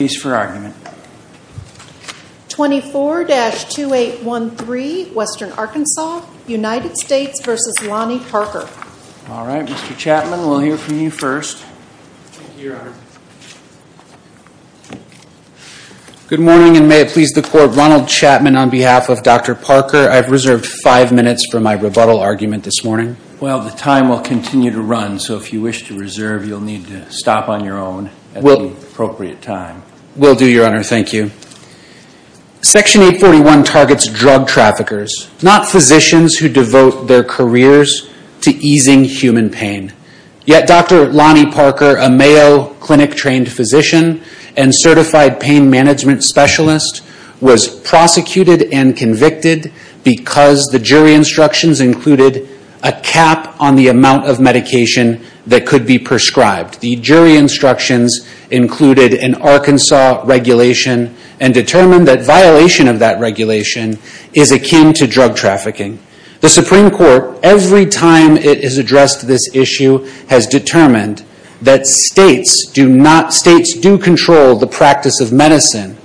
Good morning and may it please the court, Ronald Chapman on behalf of Dr. Parker, I've reserved five minutes for my rebuttal argument this morning. Well, the time will continue to run, so if you wish to reserve, you'll need to stop on your own at the appropriate time. Will do, Your Honor. Thank you. Section 841 targets drug traffickers, not physicians who devote their careers to easing human pain. Yet Dr. Lonnie Parker, a Mayo Clinic-trained physician and certified pain management specialist, was prosecuted and convicted because the jury instructions included a cap on the amount of medication that could be prescribed. The jury instructions included an Arkansas regulation and determined that violation of that regulation is akin to drug trafficking. The Supreme Court, every time it has addressed this issue, has determined that states do control the practice of medicine,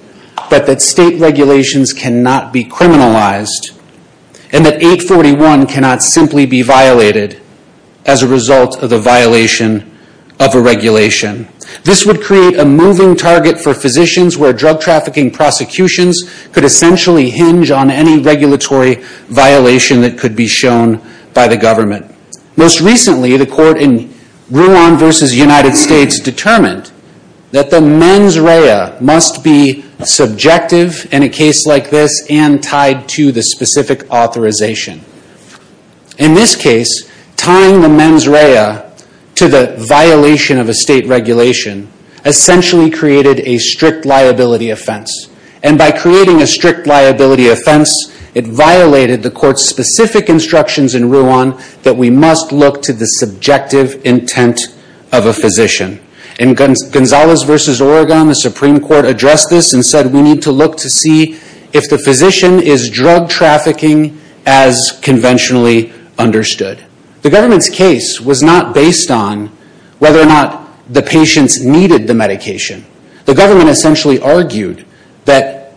but that state regulations cannot be criminalized and that 841 cannot simply be violated as a result of the violation of a regulation. This would create a moving target for physicians where drug trafficking prosecutions could essentially hinge on any regulatory violation that could be shown by the government. Most recently, the court in Ruan v. United States determined that the mens rea must be subjective in a case like this and tied to the specific authorization. In this case, tying the mens rea to the violation of a state regulation essentially created a strict liability offense. And by creating a strict liability offense, it violated the court's specific instructions in Ruan that we must look to the subjective intent of a physician. In Gonzalez v. Oregon, the Supreme Court addressed this and said we need to look to see if the physician is drug trafficking as conventionally understood. The government's case was not based on whether or not the patients needed the medication. The government essentially argued that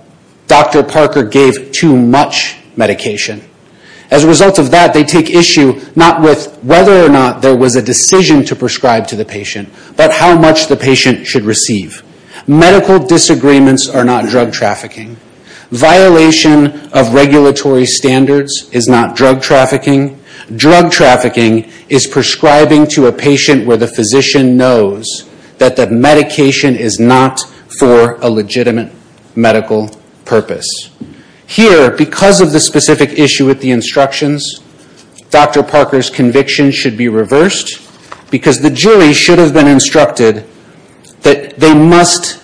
Dr. Parker gave too much medication. As a result of that, they take issue not with whether or not there was a decision to prescribe to the patient, but how much the patient should receive. Medical disagreements are not drug trafficking. Violation of regulatory standards is not drug trafficking. Drug trafficking is prescribing to a patient where the physician knows that the medication is not for a legitimate medical purpose. Here, because of the specific issue with the instructions, Dr. Parker's conviction should be reversed because the jury should have been instructed that they must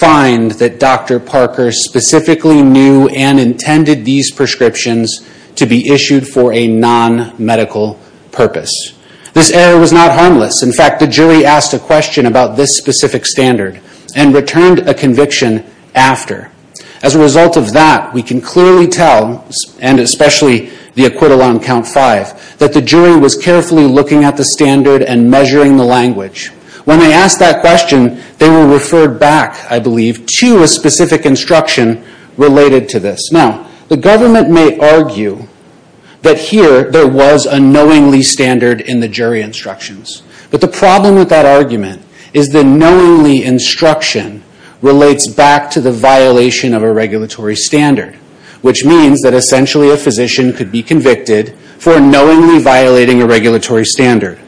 find that Dr. Parker specifically knew and intended these prescriptions to be issued for a non-medical purpose. This error was not harmless. In fact, the jury asked a question about this specific standard and returned a conviction after. As a result of that, we can clearly tell, and especially the acquittal on count five, that the jury was carefully looking at the standard and measuring the language. When they asked that question, they were referred back, I believe, to a specific instruction related to this. Now, the government may argue that here there was a knowingly standard in the jury instructions. But the problem with that argument is the knowingly instruction relates back to the violation of a regulatory standard, which means that essentially a physician could be convicted for knowingly violating a regulatory standard.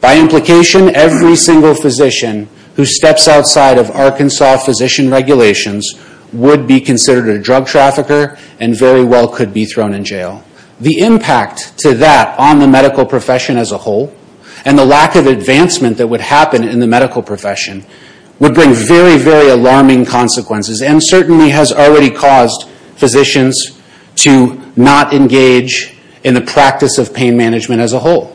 By implication, every single physician who steps outside of Arkansas physician regulations would be considered a drug trafficker and very well could be thrown in jail. The impact to that on the medical profession as a whole and the lack of advancement that would happen in the medical profession would bring very, very alarming consequences and certainly has already caused physicians to not engage in the practice of pain management as a whole.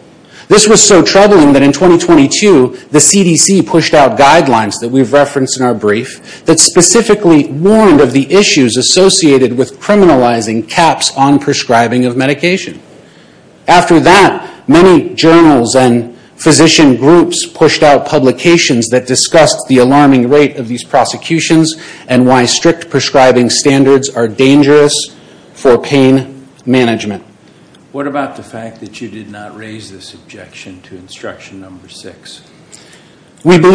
This was so troubling that in 2022, the CDC pushed out guidelines that we've referenced in our brief that specifically warned of the issues associated with criminalizing caps on prescribing of medication. After that, many journals and physician groups pushed out publications that discussed the alarming rate of these prosecutions and why strict prescribing standards are dangerous for pain management. What about the fact that you did not raise this objection to instruction number six? Thank you,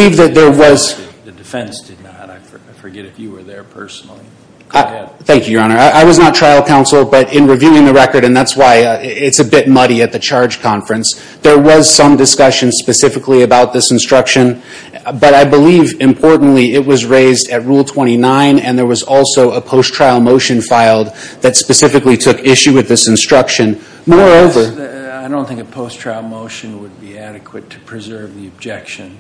Your Honor. I was not trial counsel, but in reviewing the record, and that's why it's a bit muddy at the charge conference, there was some discussion specifically about this instruction. But I believe, importantly, it was raised at Rule 29 and there was also a post-trial motion filed that specifically took issue with this instruction. I don't think a post-trial motion would be adequate to preserve the objection.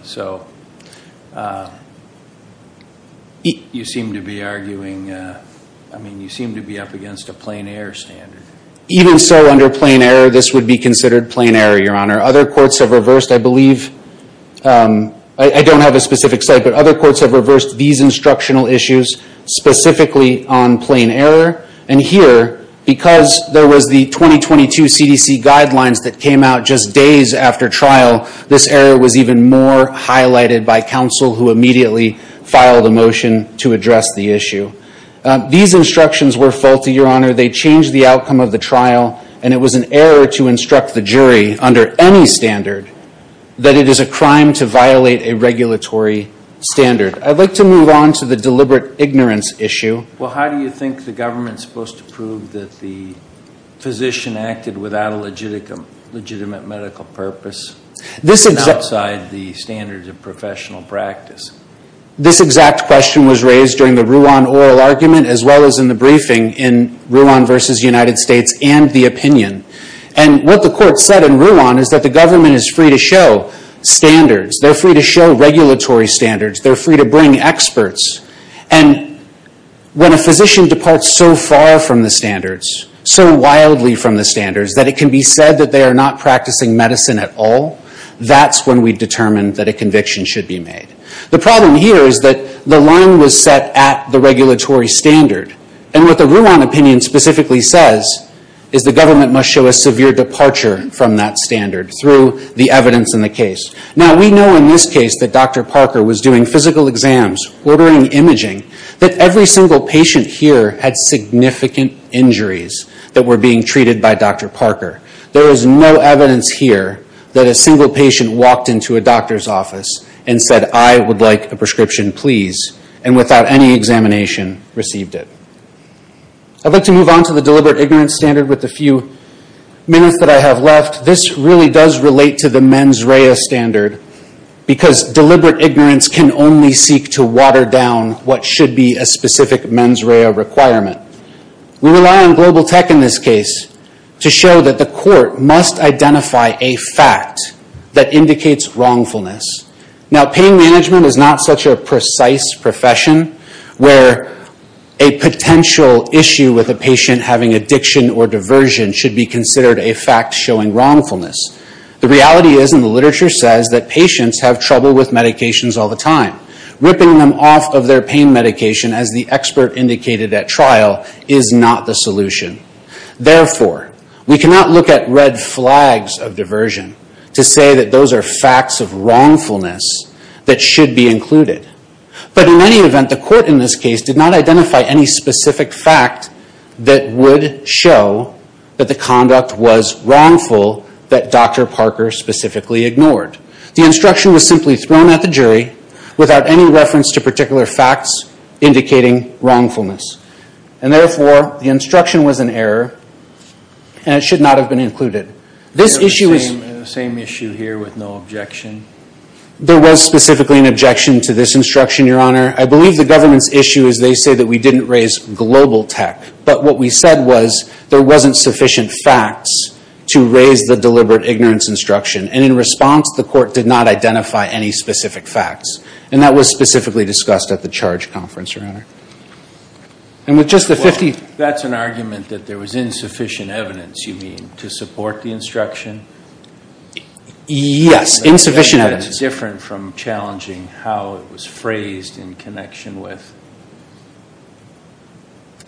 You seem to be arguing, I mean, you seem to be up against a plain error standard. Even so, under plain error, this would be considered plain error, Your Honor. Other courts have reversed, I believe, I don't have a specific site, but other courts have reversed these instructional issues specifically on plain error. And here, because there was the 2022 CDC guidelines that came out just days after trial, this error was even more highlighted by counsel who immediately filed a motion to address the issue. These instructions were faulty, Your Honor. They changed the outcome of the trial, and it was an error to instruct the jury, under any standard, that it is a crime to violate a regulatory standard. I'd like to move on to the deliberate ignorance issue. Well, how do you think the government is supposed to prove that the physician acted without a legitimate medical purpose and outside the standards of professional practice? This exact question was raised during the Ruan oral argument, as well as in the briefing in Ruan v. United States and the opinion. And what the court said in Ruan is that the government is free to show standards. They're free to show regulatory standards. They're free to bring experts. And when a physician departs so far from the standards, so wildly from the standards, that it can be said that they are not practicing medicine at all, that's when we determine that a conviction should be made. The problem here is that the line was set at the regulatory standard. And what the Ruan opinion specifically says is the government must show a severe departure from that standard through the evidence in the case. Now, we know in this case that Dr. Parker was doing physical exams, ordering imaging, that every single patient here had significant injuries that were being treated by Dr. Parker. There is no evidence here that a single patient walked into a doctor's office and said, I would like a prescription, please, and without any examination received it. I'd like to move on to the deliberate ignorance standard with the few minutes that I have left. This really does relate to the mens rea standard, because deliberate ignorance can only seek to water down what should be a specific mens rea requirement. We rely on global tech in this case to show that the court must identify a fact that indicates wrongfulness. Now, pain management is not such a precise profession, where a potential issue with a patient having addiction or diversion should be considered a fact showing wrongfulness. The reality is, and the literature says, that patients have trouble with medications all the time. Ripping them off of their pain standards. We do not look at red flags of diversion to say that those are facts of wrongfulness that should be included. But in any event, the court in this case did not identify any specific fact that would show that the conduct was wrongful that Dr. Parker specifically ignored. The instruction was simply thrown at the jury without any reference to particular facts indicating wrongfulness. And therefore, the instruction was an error, and it should not have been included. The same issue here with no objection? There was specifically an objection to this instruction, Your Honor. I believe the government's issue is they say that we didn't raise global tech. But what we said was, there wasn't sufficient facts to raise the deliberate ignorance instruction. And in response, the court did not identify any specific facts. And that was specifically discussed at the charge conference, Your Honor. And with just the 50... Well, that's an argument that there was insufficient evidence, you mean, to support the instruction? Yes, insufficient evidence. That's different from challenging how it was phrased in connection with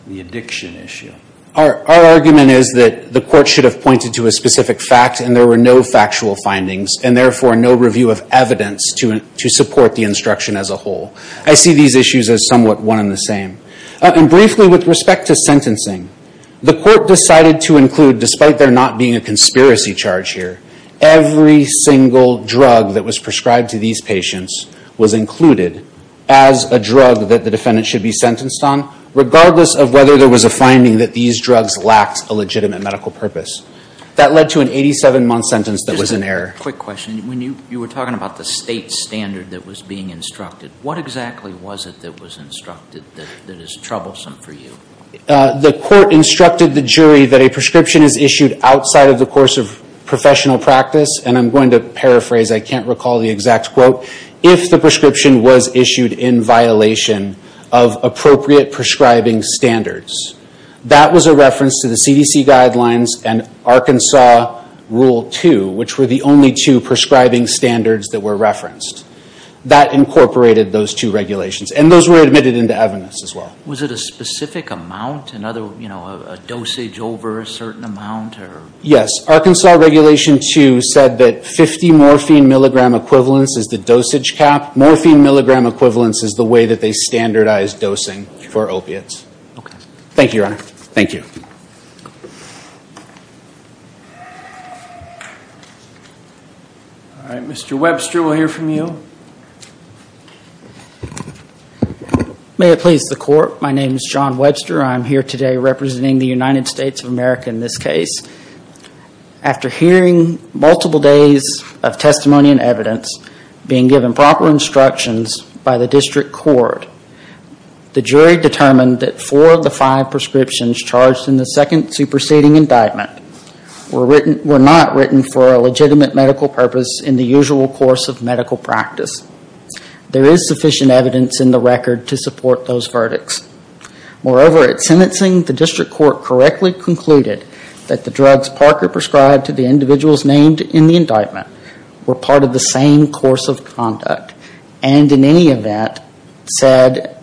the addiction issue. Our argument is that the court should have pointed to a specific fact, and there were no factual findings. And therefore, no review of evidence to support the instruction as the same. And briefly, with respect to sentencing, the court decided to include, despite there not being a conspiracy charge here, every single drug that was prescribed to these patients was included as a drug that the defendant should be sentenced on, regardless of whether there was a finding that these drugs lacked a legitimate medical purpose. That led to an 87-month sentence that was an error. Just a quick question. When you were talking about the state standard that was being instructed, what exactly was it that was instructed that is troublesome for you? The court instructed the jury that a prescription is issued outside of the course of professional practice, and I'm going to paraphrase, I can't recall the exact quote, if the prescription was issued in violation of appropriate prescribing standards. That was a reference to the CDC guidelines and Arkansas Rule 2, which were the only two prescribing standards that were mandated, those two regulations. And those were admitted into evidence as well. Was it a specific amount, a dosage over a certain amount? Yes. Arkansas Regulation 2 said that 50 morphine milligram equivalents is the dosage cap. Morphine milligram equivalents is the way that they standardized dosing for opiates. Okay. Thank you, Your Honor. Thank you. All right. Mr. Webster, we'll hear from you. May it please the court, my name is John Webster. I'm here today representing the United States of America in this case. After hearing multiple days of testimony and evidence, being given proper instructions by the district court, the jury determined that four of the five prescriptions charged in the second superseding indictment were not written for a legitimate medical purpose in the usual course of medical practice. There is sufficient evidence in the record to support those verdicts. Moreover, at sentencing, the district court correctly concluded that the drugs Parker prescribed to the individuals named in the indictment were part of the same course of conduct and in any event said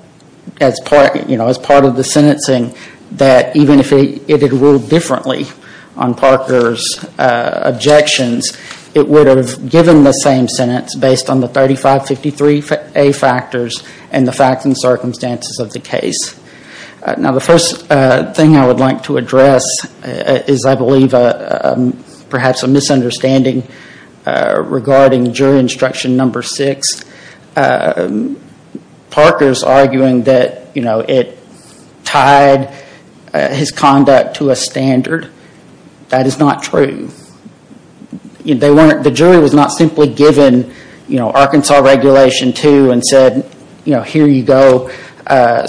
as part of the sentencing that even if it had ruled differently on Parker's objections, it would have given the same sentence based on the 3553A factors and the facts and circumstances of the case. Now the first thing I would like to address is I believe perhaps a misunderstanding regarding jury instruction number six. Parker's arguing that it tied his conduct to a standard. That is not true. The jury was not simply given Arkansas regulation two and said here you go,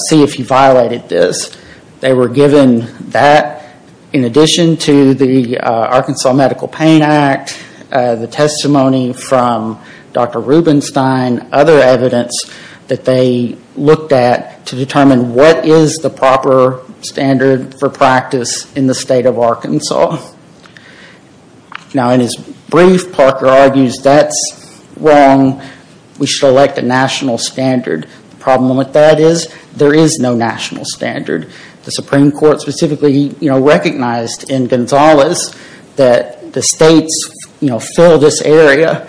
see if you violated this. They were given that in addition to the Arkansas Medical Pain Act, the testimony from Dr. Rubenstein, other evidence that they looked at to determine what is the proper standard for practice in the state of Arkansas. Now in his brief, Parker argues that's wrong. We should elect a national standard. The problem with that is there is no national standard. The Supreme Court specifically recognized in Gonzalez that the states fill this area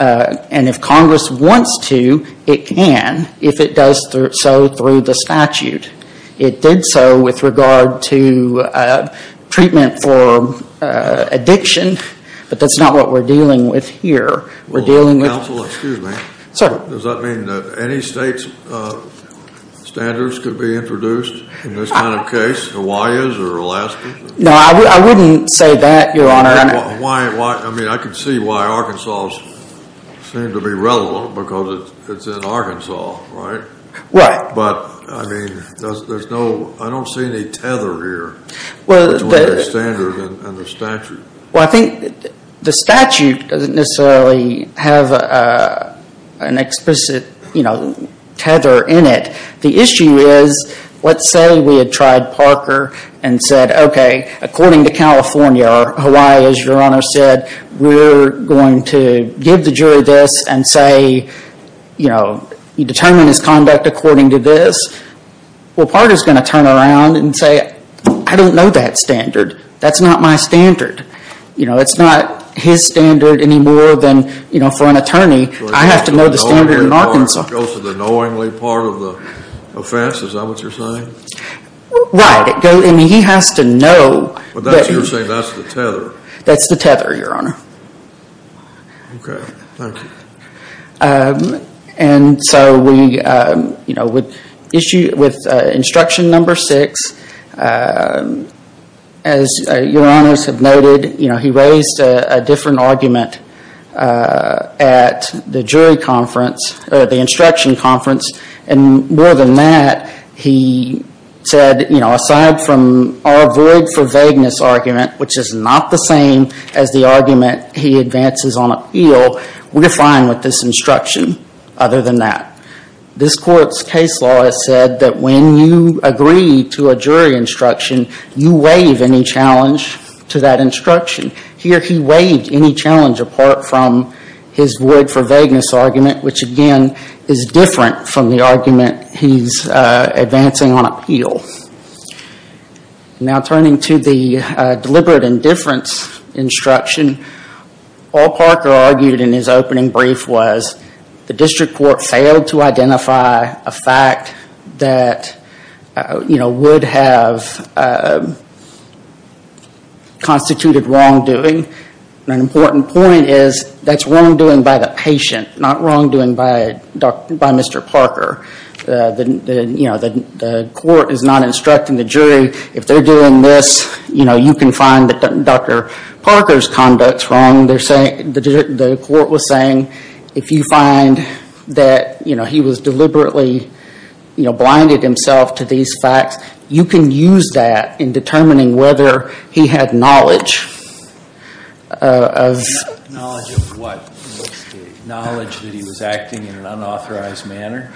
and if Congress wants to, it can if it does so through the statute. It did so with regard to treatment for addiction, but that's not what we're dealing with here. We're dealing with... Counsel, excuse me. Sir. Does that mean that any state's standards could be introduced in this kind of case, Hawaii's or Alaska's? No, I wouldn't say that, Your Honor. I mean, I can see why Arkansas's seem to be relevant because it's in Arkansas, right? Right. But, I mean, there's no, I don't see any tether here between the standard and the statute. Well, I think the statute doesn't necessarily have an explicit, you know, tether in it. The issue is, let's say we had tried Parker and said, okay, according to California, or Hawaii, as Your Honor said, we're going to give the jury this and say, you know, you determine his conduct according to this. Well, Parker's going to turn around and say, I don't know that standard. That's not my standard. You know, it's not his standard any more than, you know, for an attorney, I have to know the standard in Arkansas. It goes to the knowingly part of the offense. Is that what you're saying? Right. I mean, he has to know. But that's what you're saying. That's the tether. That's the tether, Your Honor. Okay. Thank you. And so we, you know, would issue with instruction number six. As Your Honors have noted, you know, he raised a different argument at the jury conference, or the instruction conference, and more than that, he said, you know, aside from our void for vagueness argument, which is not the same as the argument he advances on appeal, we're fine with this instruction other than that. This Court's case law has said that when you agree to a jury instruction, you waive any challenge to that instruction. Here he waived any challenge apart from his void for vagueness argument, which again is different from the argument he's advancing on appeal. Now turning to the deliberate indifference instruction, all Parker argued in his opening brief was the district court failed to identify a fact that, you know, would have constituted wrongdoing. An important point is that's wrongdoing by the patient, not wrongdoing by Mr. Parker. You know, the court is not instructing the jury, if they're doing this, you know, you can find that Dr. Parker's conduct's wrong. The court was saying if you find that, you know, he was deliberately, you know, blinded himself to these facts, you can use that in determining whether he had knowledge. Knowledge of what? Knowledge that he was acting in an unauthorized manner?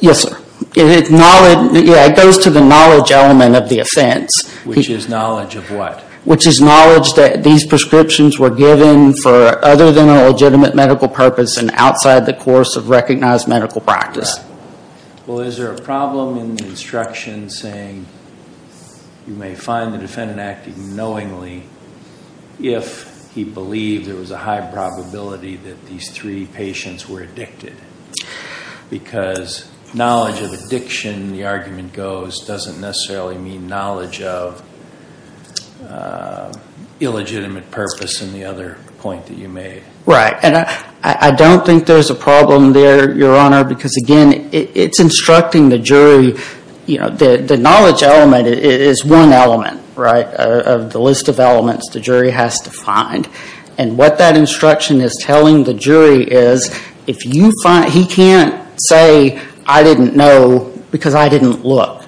Yes, sir. It goes to the knowledge element of the offense. Which is knowledge of what? Which is knowledge that these prescriptions were given for other than a legitimate medical purpose and outside the course of recognized medical practice. Well, is there a problem in the instruction saying you may find the defendant acting knowingly if he believed there was a high probability that these three patients were addicted? Because knowledge of addiction, the argument goes, doesn't necessarily mean knowledge of illegitimate purpose in the other point that you made. Right. And I don't think there's a problem there, Your Honor, because again, it's instructing the jury, you know, the knowledge element is one element, right, of the list of elements the jury has to find. And what that instruction is telling the jury is, if you find, he can't say, I didn't know because I didn't look.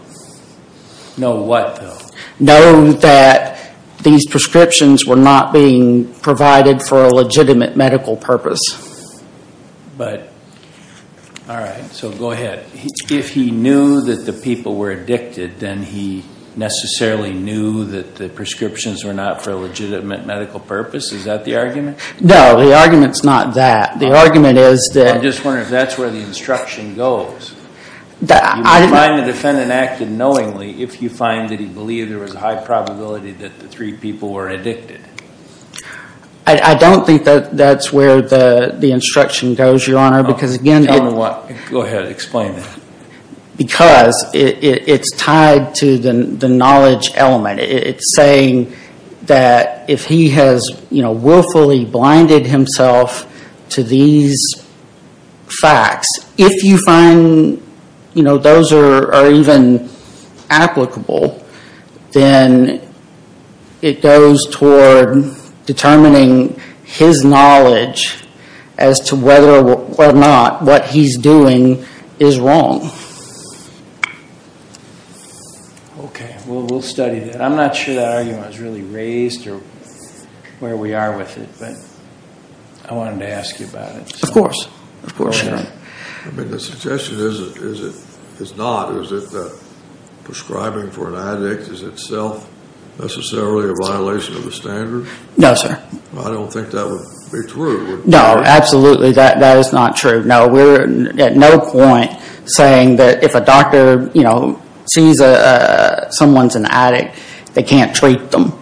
Know what, though? Know that these prescriptions were not being provided for a legitimate medical purpose. But, all right, so go ahead. If he knew that the people were addicted, then he necessarily knew that the prescriptions were not for a legitimate medical purpose, is that the argument? No, the argument's not that. The argument is that. I'm just wondering if that's where the instruction goes. That I. You may find the defendant acted knowingly if you find that he believed there was a high probability that the three people were addicted. I don't think that that's where the instruction goes, Your Honor, because again. Go ahead, explain it. Because it's tied to the knowledge element. It's saying that if he has, you know, willfully blinded himself to these facts, if you find, you know, those are even applicable, then it goes toward determining his knowledge as to whether or not what he's doing is wrong. Okay, we'll study that. I'm not sure that argument was really raised or where we are with it, but I wanted to ask you about it. Of course. Of course, Your Honor. I mean, the suggestion is not, is it prescribing for an addict is itself necessarily a violation of the standards? No, sir. I don't think that would be true. No, absolutely, that is not true. No, we're at no point saying that if a doctor, you know, sees someone's an addict, they can't treat them.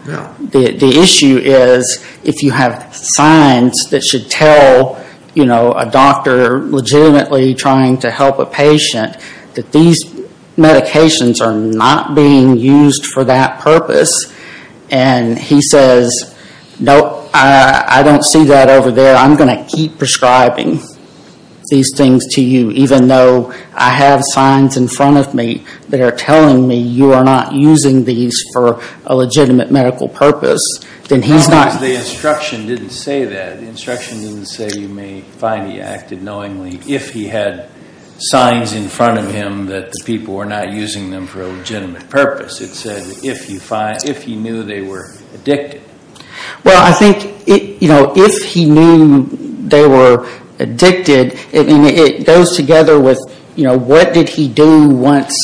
The issue is if you have signs that should tell, you know, a doctor legitimately trying to help a patient that these medications are not being used for that purpose, and he says, nope, I don't see that over there, I'm going to keep prescribing these things to you, even though I have signs in front of me that are telling me you are not using these for a legitimate medical purpose, then he's not. The instruction didn't say that. The instruction didn't say you may find he acted knowingly if he had signs in front of him that the people were not using them for a legitimate purpose. It said if he knew they were addicted. Well, I think, you know, if he knew they were addicted, it goes together with, you know, what did he do once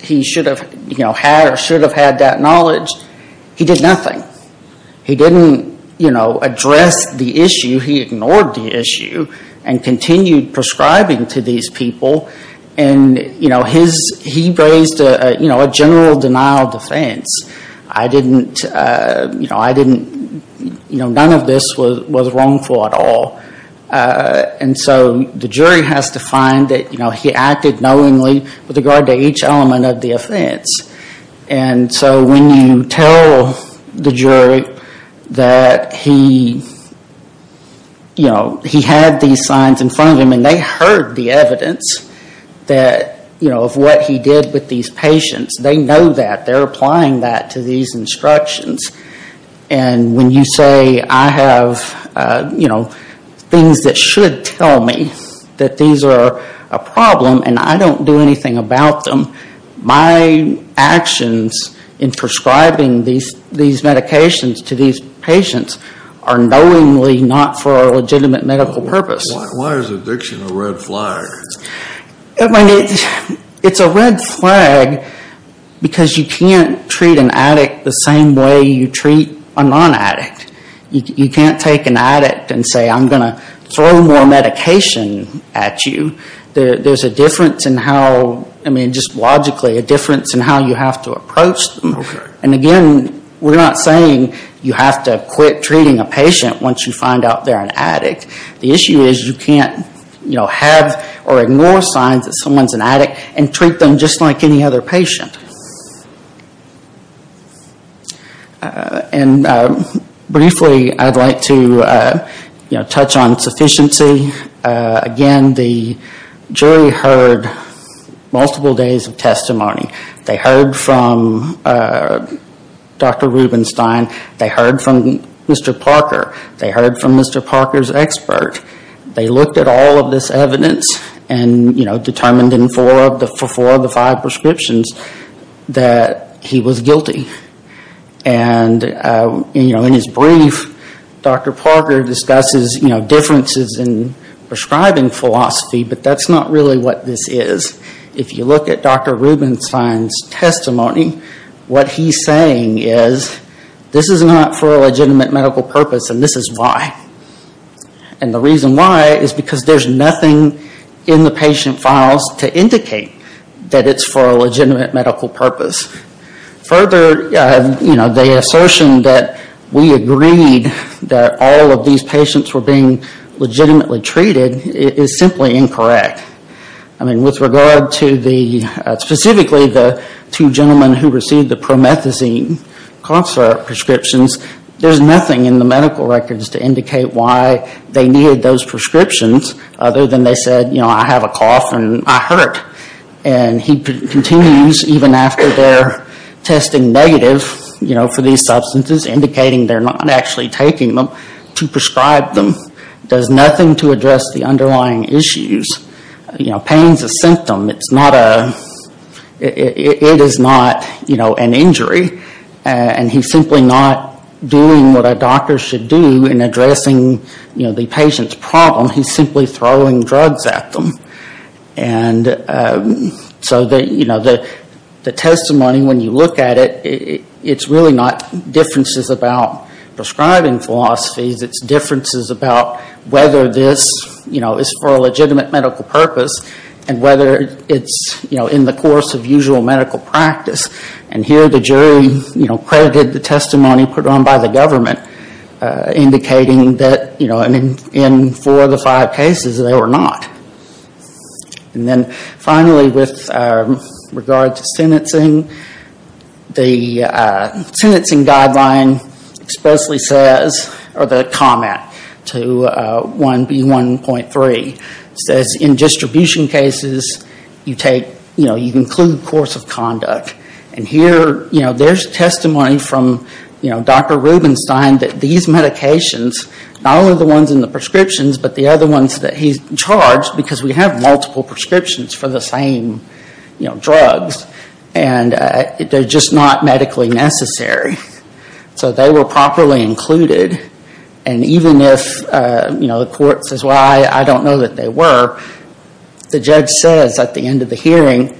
he should have, you know, had or should have had that knowledge. He did nothing. He didn't, you know, address the issue. He ignored the issue and continued prescribing to these people, and, you know, he raised a general denial defense. I didn't, you know, I didn't, you know, none of this was wrongful at all. And so the jury has to find that, you know, he acted knowingly with regard to each element of the offense. And so when you tell the jury that he, you know, he had these signs in front of him and they heard the evidence that, you know, of what he did with these patients, they know that. They're applying that to these instructions. And when you say I have, you know, things that should tell me that these are a problem and I don't do anything about them, my actions in prescribing these medications to these patients are knowingly not for a legitimate medical purpose. Why is addiction a red flag? It's a red flag because you can't treat an addict the same way you treat a non-addict. You can't take an addict and say I'm going to throw more medication at you. There's a difference in how, I mean, just logically a difference in how you have to approach them. And again, we're not saying you have to quit treating a patient once you find out they're an addict. The issue is you can't, you know, have or ignore signs that someone's an addict and treat them just like any other patient. And briefly, I'd like to, you know, touch on sufficiency. Again, the jury heard multiple days of testimony. They heard from Dr. Rubenstein. They heard from Mr. Parker. They heard from Mr. Parker's expert. They looked at all of this evidence and, you know, determined in four of the five prescriptions that he was guilty. And, you know, in his brief, Dr. Parker discusses, you know, differences in prescribing philosophy, but that's not really what this is. If you look at Dr. Rubenstein's testimony, what he's saying is this is not for a legitimate medical purpose and this is why. And the reason why is because there's nothing in the patient files to indicate that it's for a legitimate medical purpose. Further, you know, the assertion that we agreed that all of these patients were being legitimately treated is simply incorrect. I mean, with regard to the, specifically the two gentlemen who received the promethazine cough syrup prescriptions, there's nothing in the medical records to indicate why they needed those prescriptions other than they said, you know, I have a cough and I hurt. And he continues, even after their testing negative, you know, for these substances, indicating they're not actually taking them to prescribe them. It does nothing to address the underlying issues. You know, pain's a symptom. It's not a, it is not, you know, an injury. And he's simply not doing what a doctor should do in addressing, you know, the patient's problem. He's simply throwing drugs at them. And so, you know, the testimony, when you look at it, it's really not differences about prescribing philosophies. It's differences about whether this, you know, is for a legitimate medical purpose and whether it's, you know, in the course of usual medical practice. And here the jury, you know, credited the testimony put on by the government, indicating that, you know, in four of the five cases, they were not. And then finally, with regard to sentencing, the sentencing guideline expressly says, or the comment to 1B1.3, says in distribution cases, you take, you know, you include course of conduct. And here, you know, there's testimony from, you know, Dr. Rubenstein that these medications, not only the ones in the prescriptions, but the other ones that he's charged, because we have multiple prescriptions for the same, you know, drugs. And they're just not medically necessary. So they were properly included. And even if, you know, the court says, well, I don't know that they were, the judge says at the end of the hearing,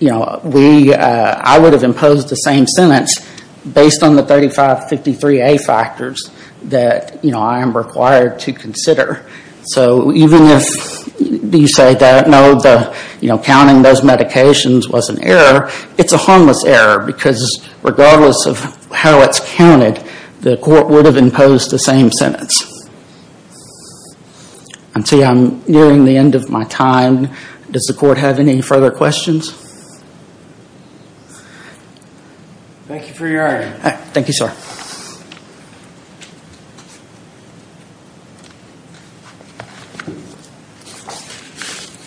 you know, we, I would have imposed the same sentence based on the 3553A factors that, you know, I am required to consider. So even if you say that, no, the, you know, counting those medications was an error, it's a harmless error because regardless of how it's counted, the court would have imposed the same sentence. And see, I'm nearing the end of my time. Does the court have any further questions? Thank you for your argument. Thank you, sir.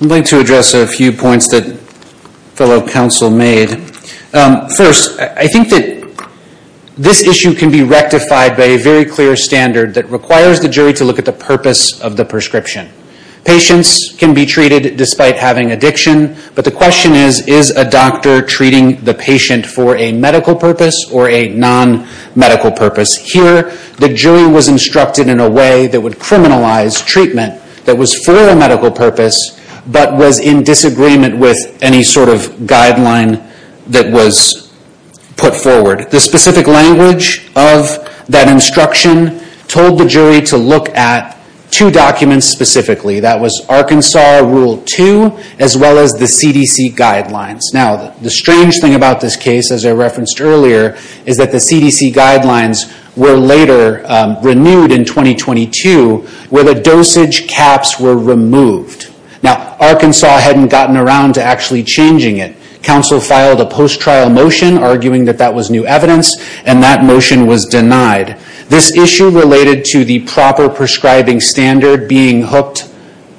I'm going to address a few points that fellow counsel made. First, I think that this issue can be rectified by a very clear standard that requires the jury to look at the purpose of the prescription. Patients can be treated despite having addiction. But the question is, is a doctor treating the patient for a medical purpose or a non-medical purpose? Here, the jury was instructed in a way that would criminalize treatment that was for a medical purpose but was in disagreement with any sort of guideline that was put forward. The specific language of that instruction told the jury to look at two documents specifically. That was Arkansas Rule 2 as well as the CDC guidelines. Now, the strange thing about this case, as I referenced earlier, is that the CDC guidelines were later renewed in 2022 where the dosage caps were removed. Now, Arkansas hadn't gotten around to actually changing it. Counsel filed a post-trial motion arguing that that was new evidence, and that motion was denied. This issue related to the proper prescribing standard being hooked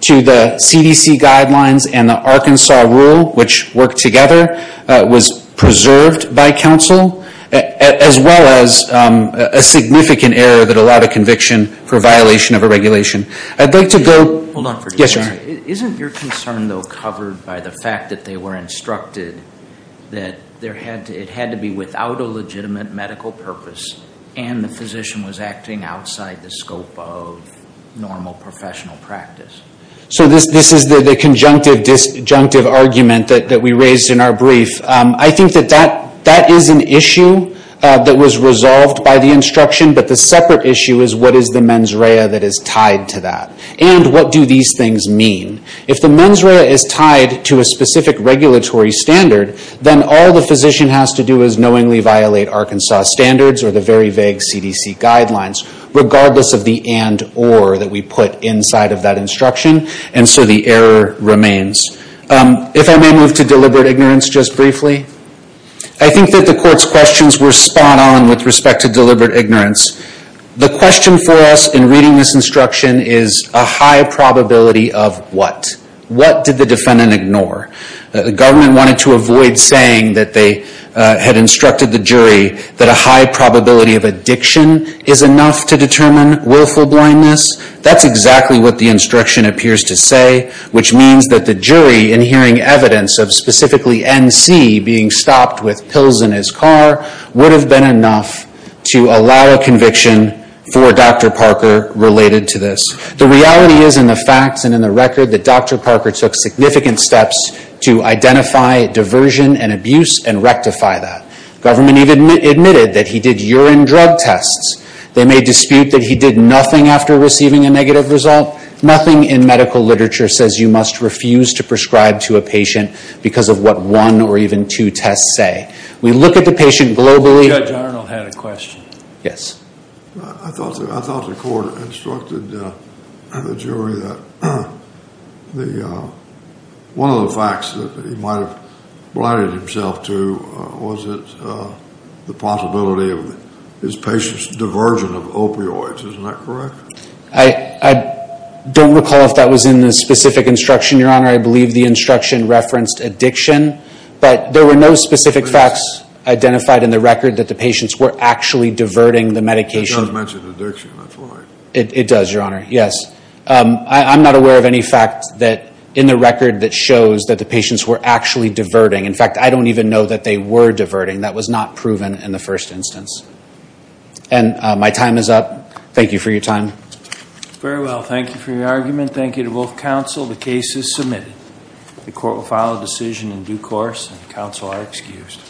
to the CDC guidelines and the Arkansas Rule, which worked together, was preserved by counsel, as well as a significant error that allowed a conviction for violation of a regulation. I'd like to go... Hold on for just a second. Yes, sir. Isn't your concern, though, covered by the fact that they were instructed that it had to be without a legitimate medical purpose and the physician was acting outside the scope of normal professional practice? So this is the conjunctive-disjunctive argument that we raised in our brief. I think that that is an issue that was resolved by the instruction, but the separate issue is what is the mens rea that is tied to that, and what do these things mean? If the mens rea is tied to a specific regulatory standard, then all the physician has to do is knowingly violate Arkansas standards or the very vague CDC guidelines, regardless of the and-or that we put inside of that instruction, and so the error remains. If I may move to deliberate ignorance just briefly. I think that the Court's questions were spot-on with respect to deliberate ignorance. The question for us in reading this instruction is a high probability of what? What did the defendant ignore? The government wanted to avoid saying that they had instructed the jury that a high probability of addiction is enough to determine willful blindness. That's exactly what the instruction appears to say, which means that the jury, in hearing evidence of specifically N.C. being stopped with pills in his car, would have been enough to allow a conviction for Dr. Parker related to this. The reality is, in the facts and in the record, that Dr. Parker took significant steps to identify diversion and abuse and rectify that. Government even admitted that he did urine drug tests. They may dispute that he did nothing after receiving a negative result. Nothing in medical literature says you must refuse to prescribe to a patient because of what one or even two tests say. We look at the patient globally. Judge Arnold had a question. I thought the Court instructed the jury that one of the facts that he might have blinded himself to was the possibility of his patient's diversion of opioids. Isn't that correct? I don't recall if that was in the specific instruction, Your Honor. I believe the instruction referenced addiction. But there were no specific facts identified in the record that the patients were actually diverting the medication. It does mention addiction. That's why. It does, Your Honor. Yes. I'm not aware of any fact in the record that shows that the patients were actually diverting. In fact, I don't even know that they were diverting. That was not proven in the first instance. And my time is up. Thank you for your time. Very well. Thank you for your argument. Thank you to both counsel. The case is submitted. The Court will file a decision in due course, and counsel are excused.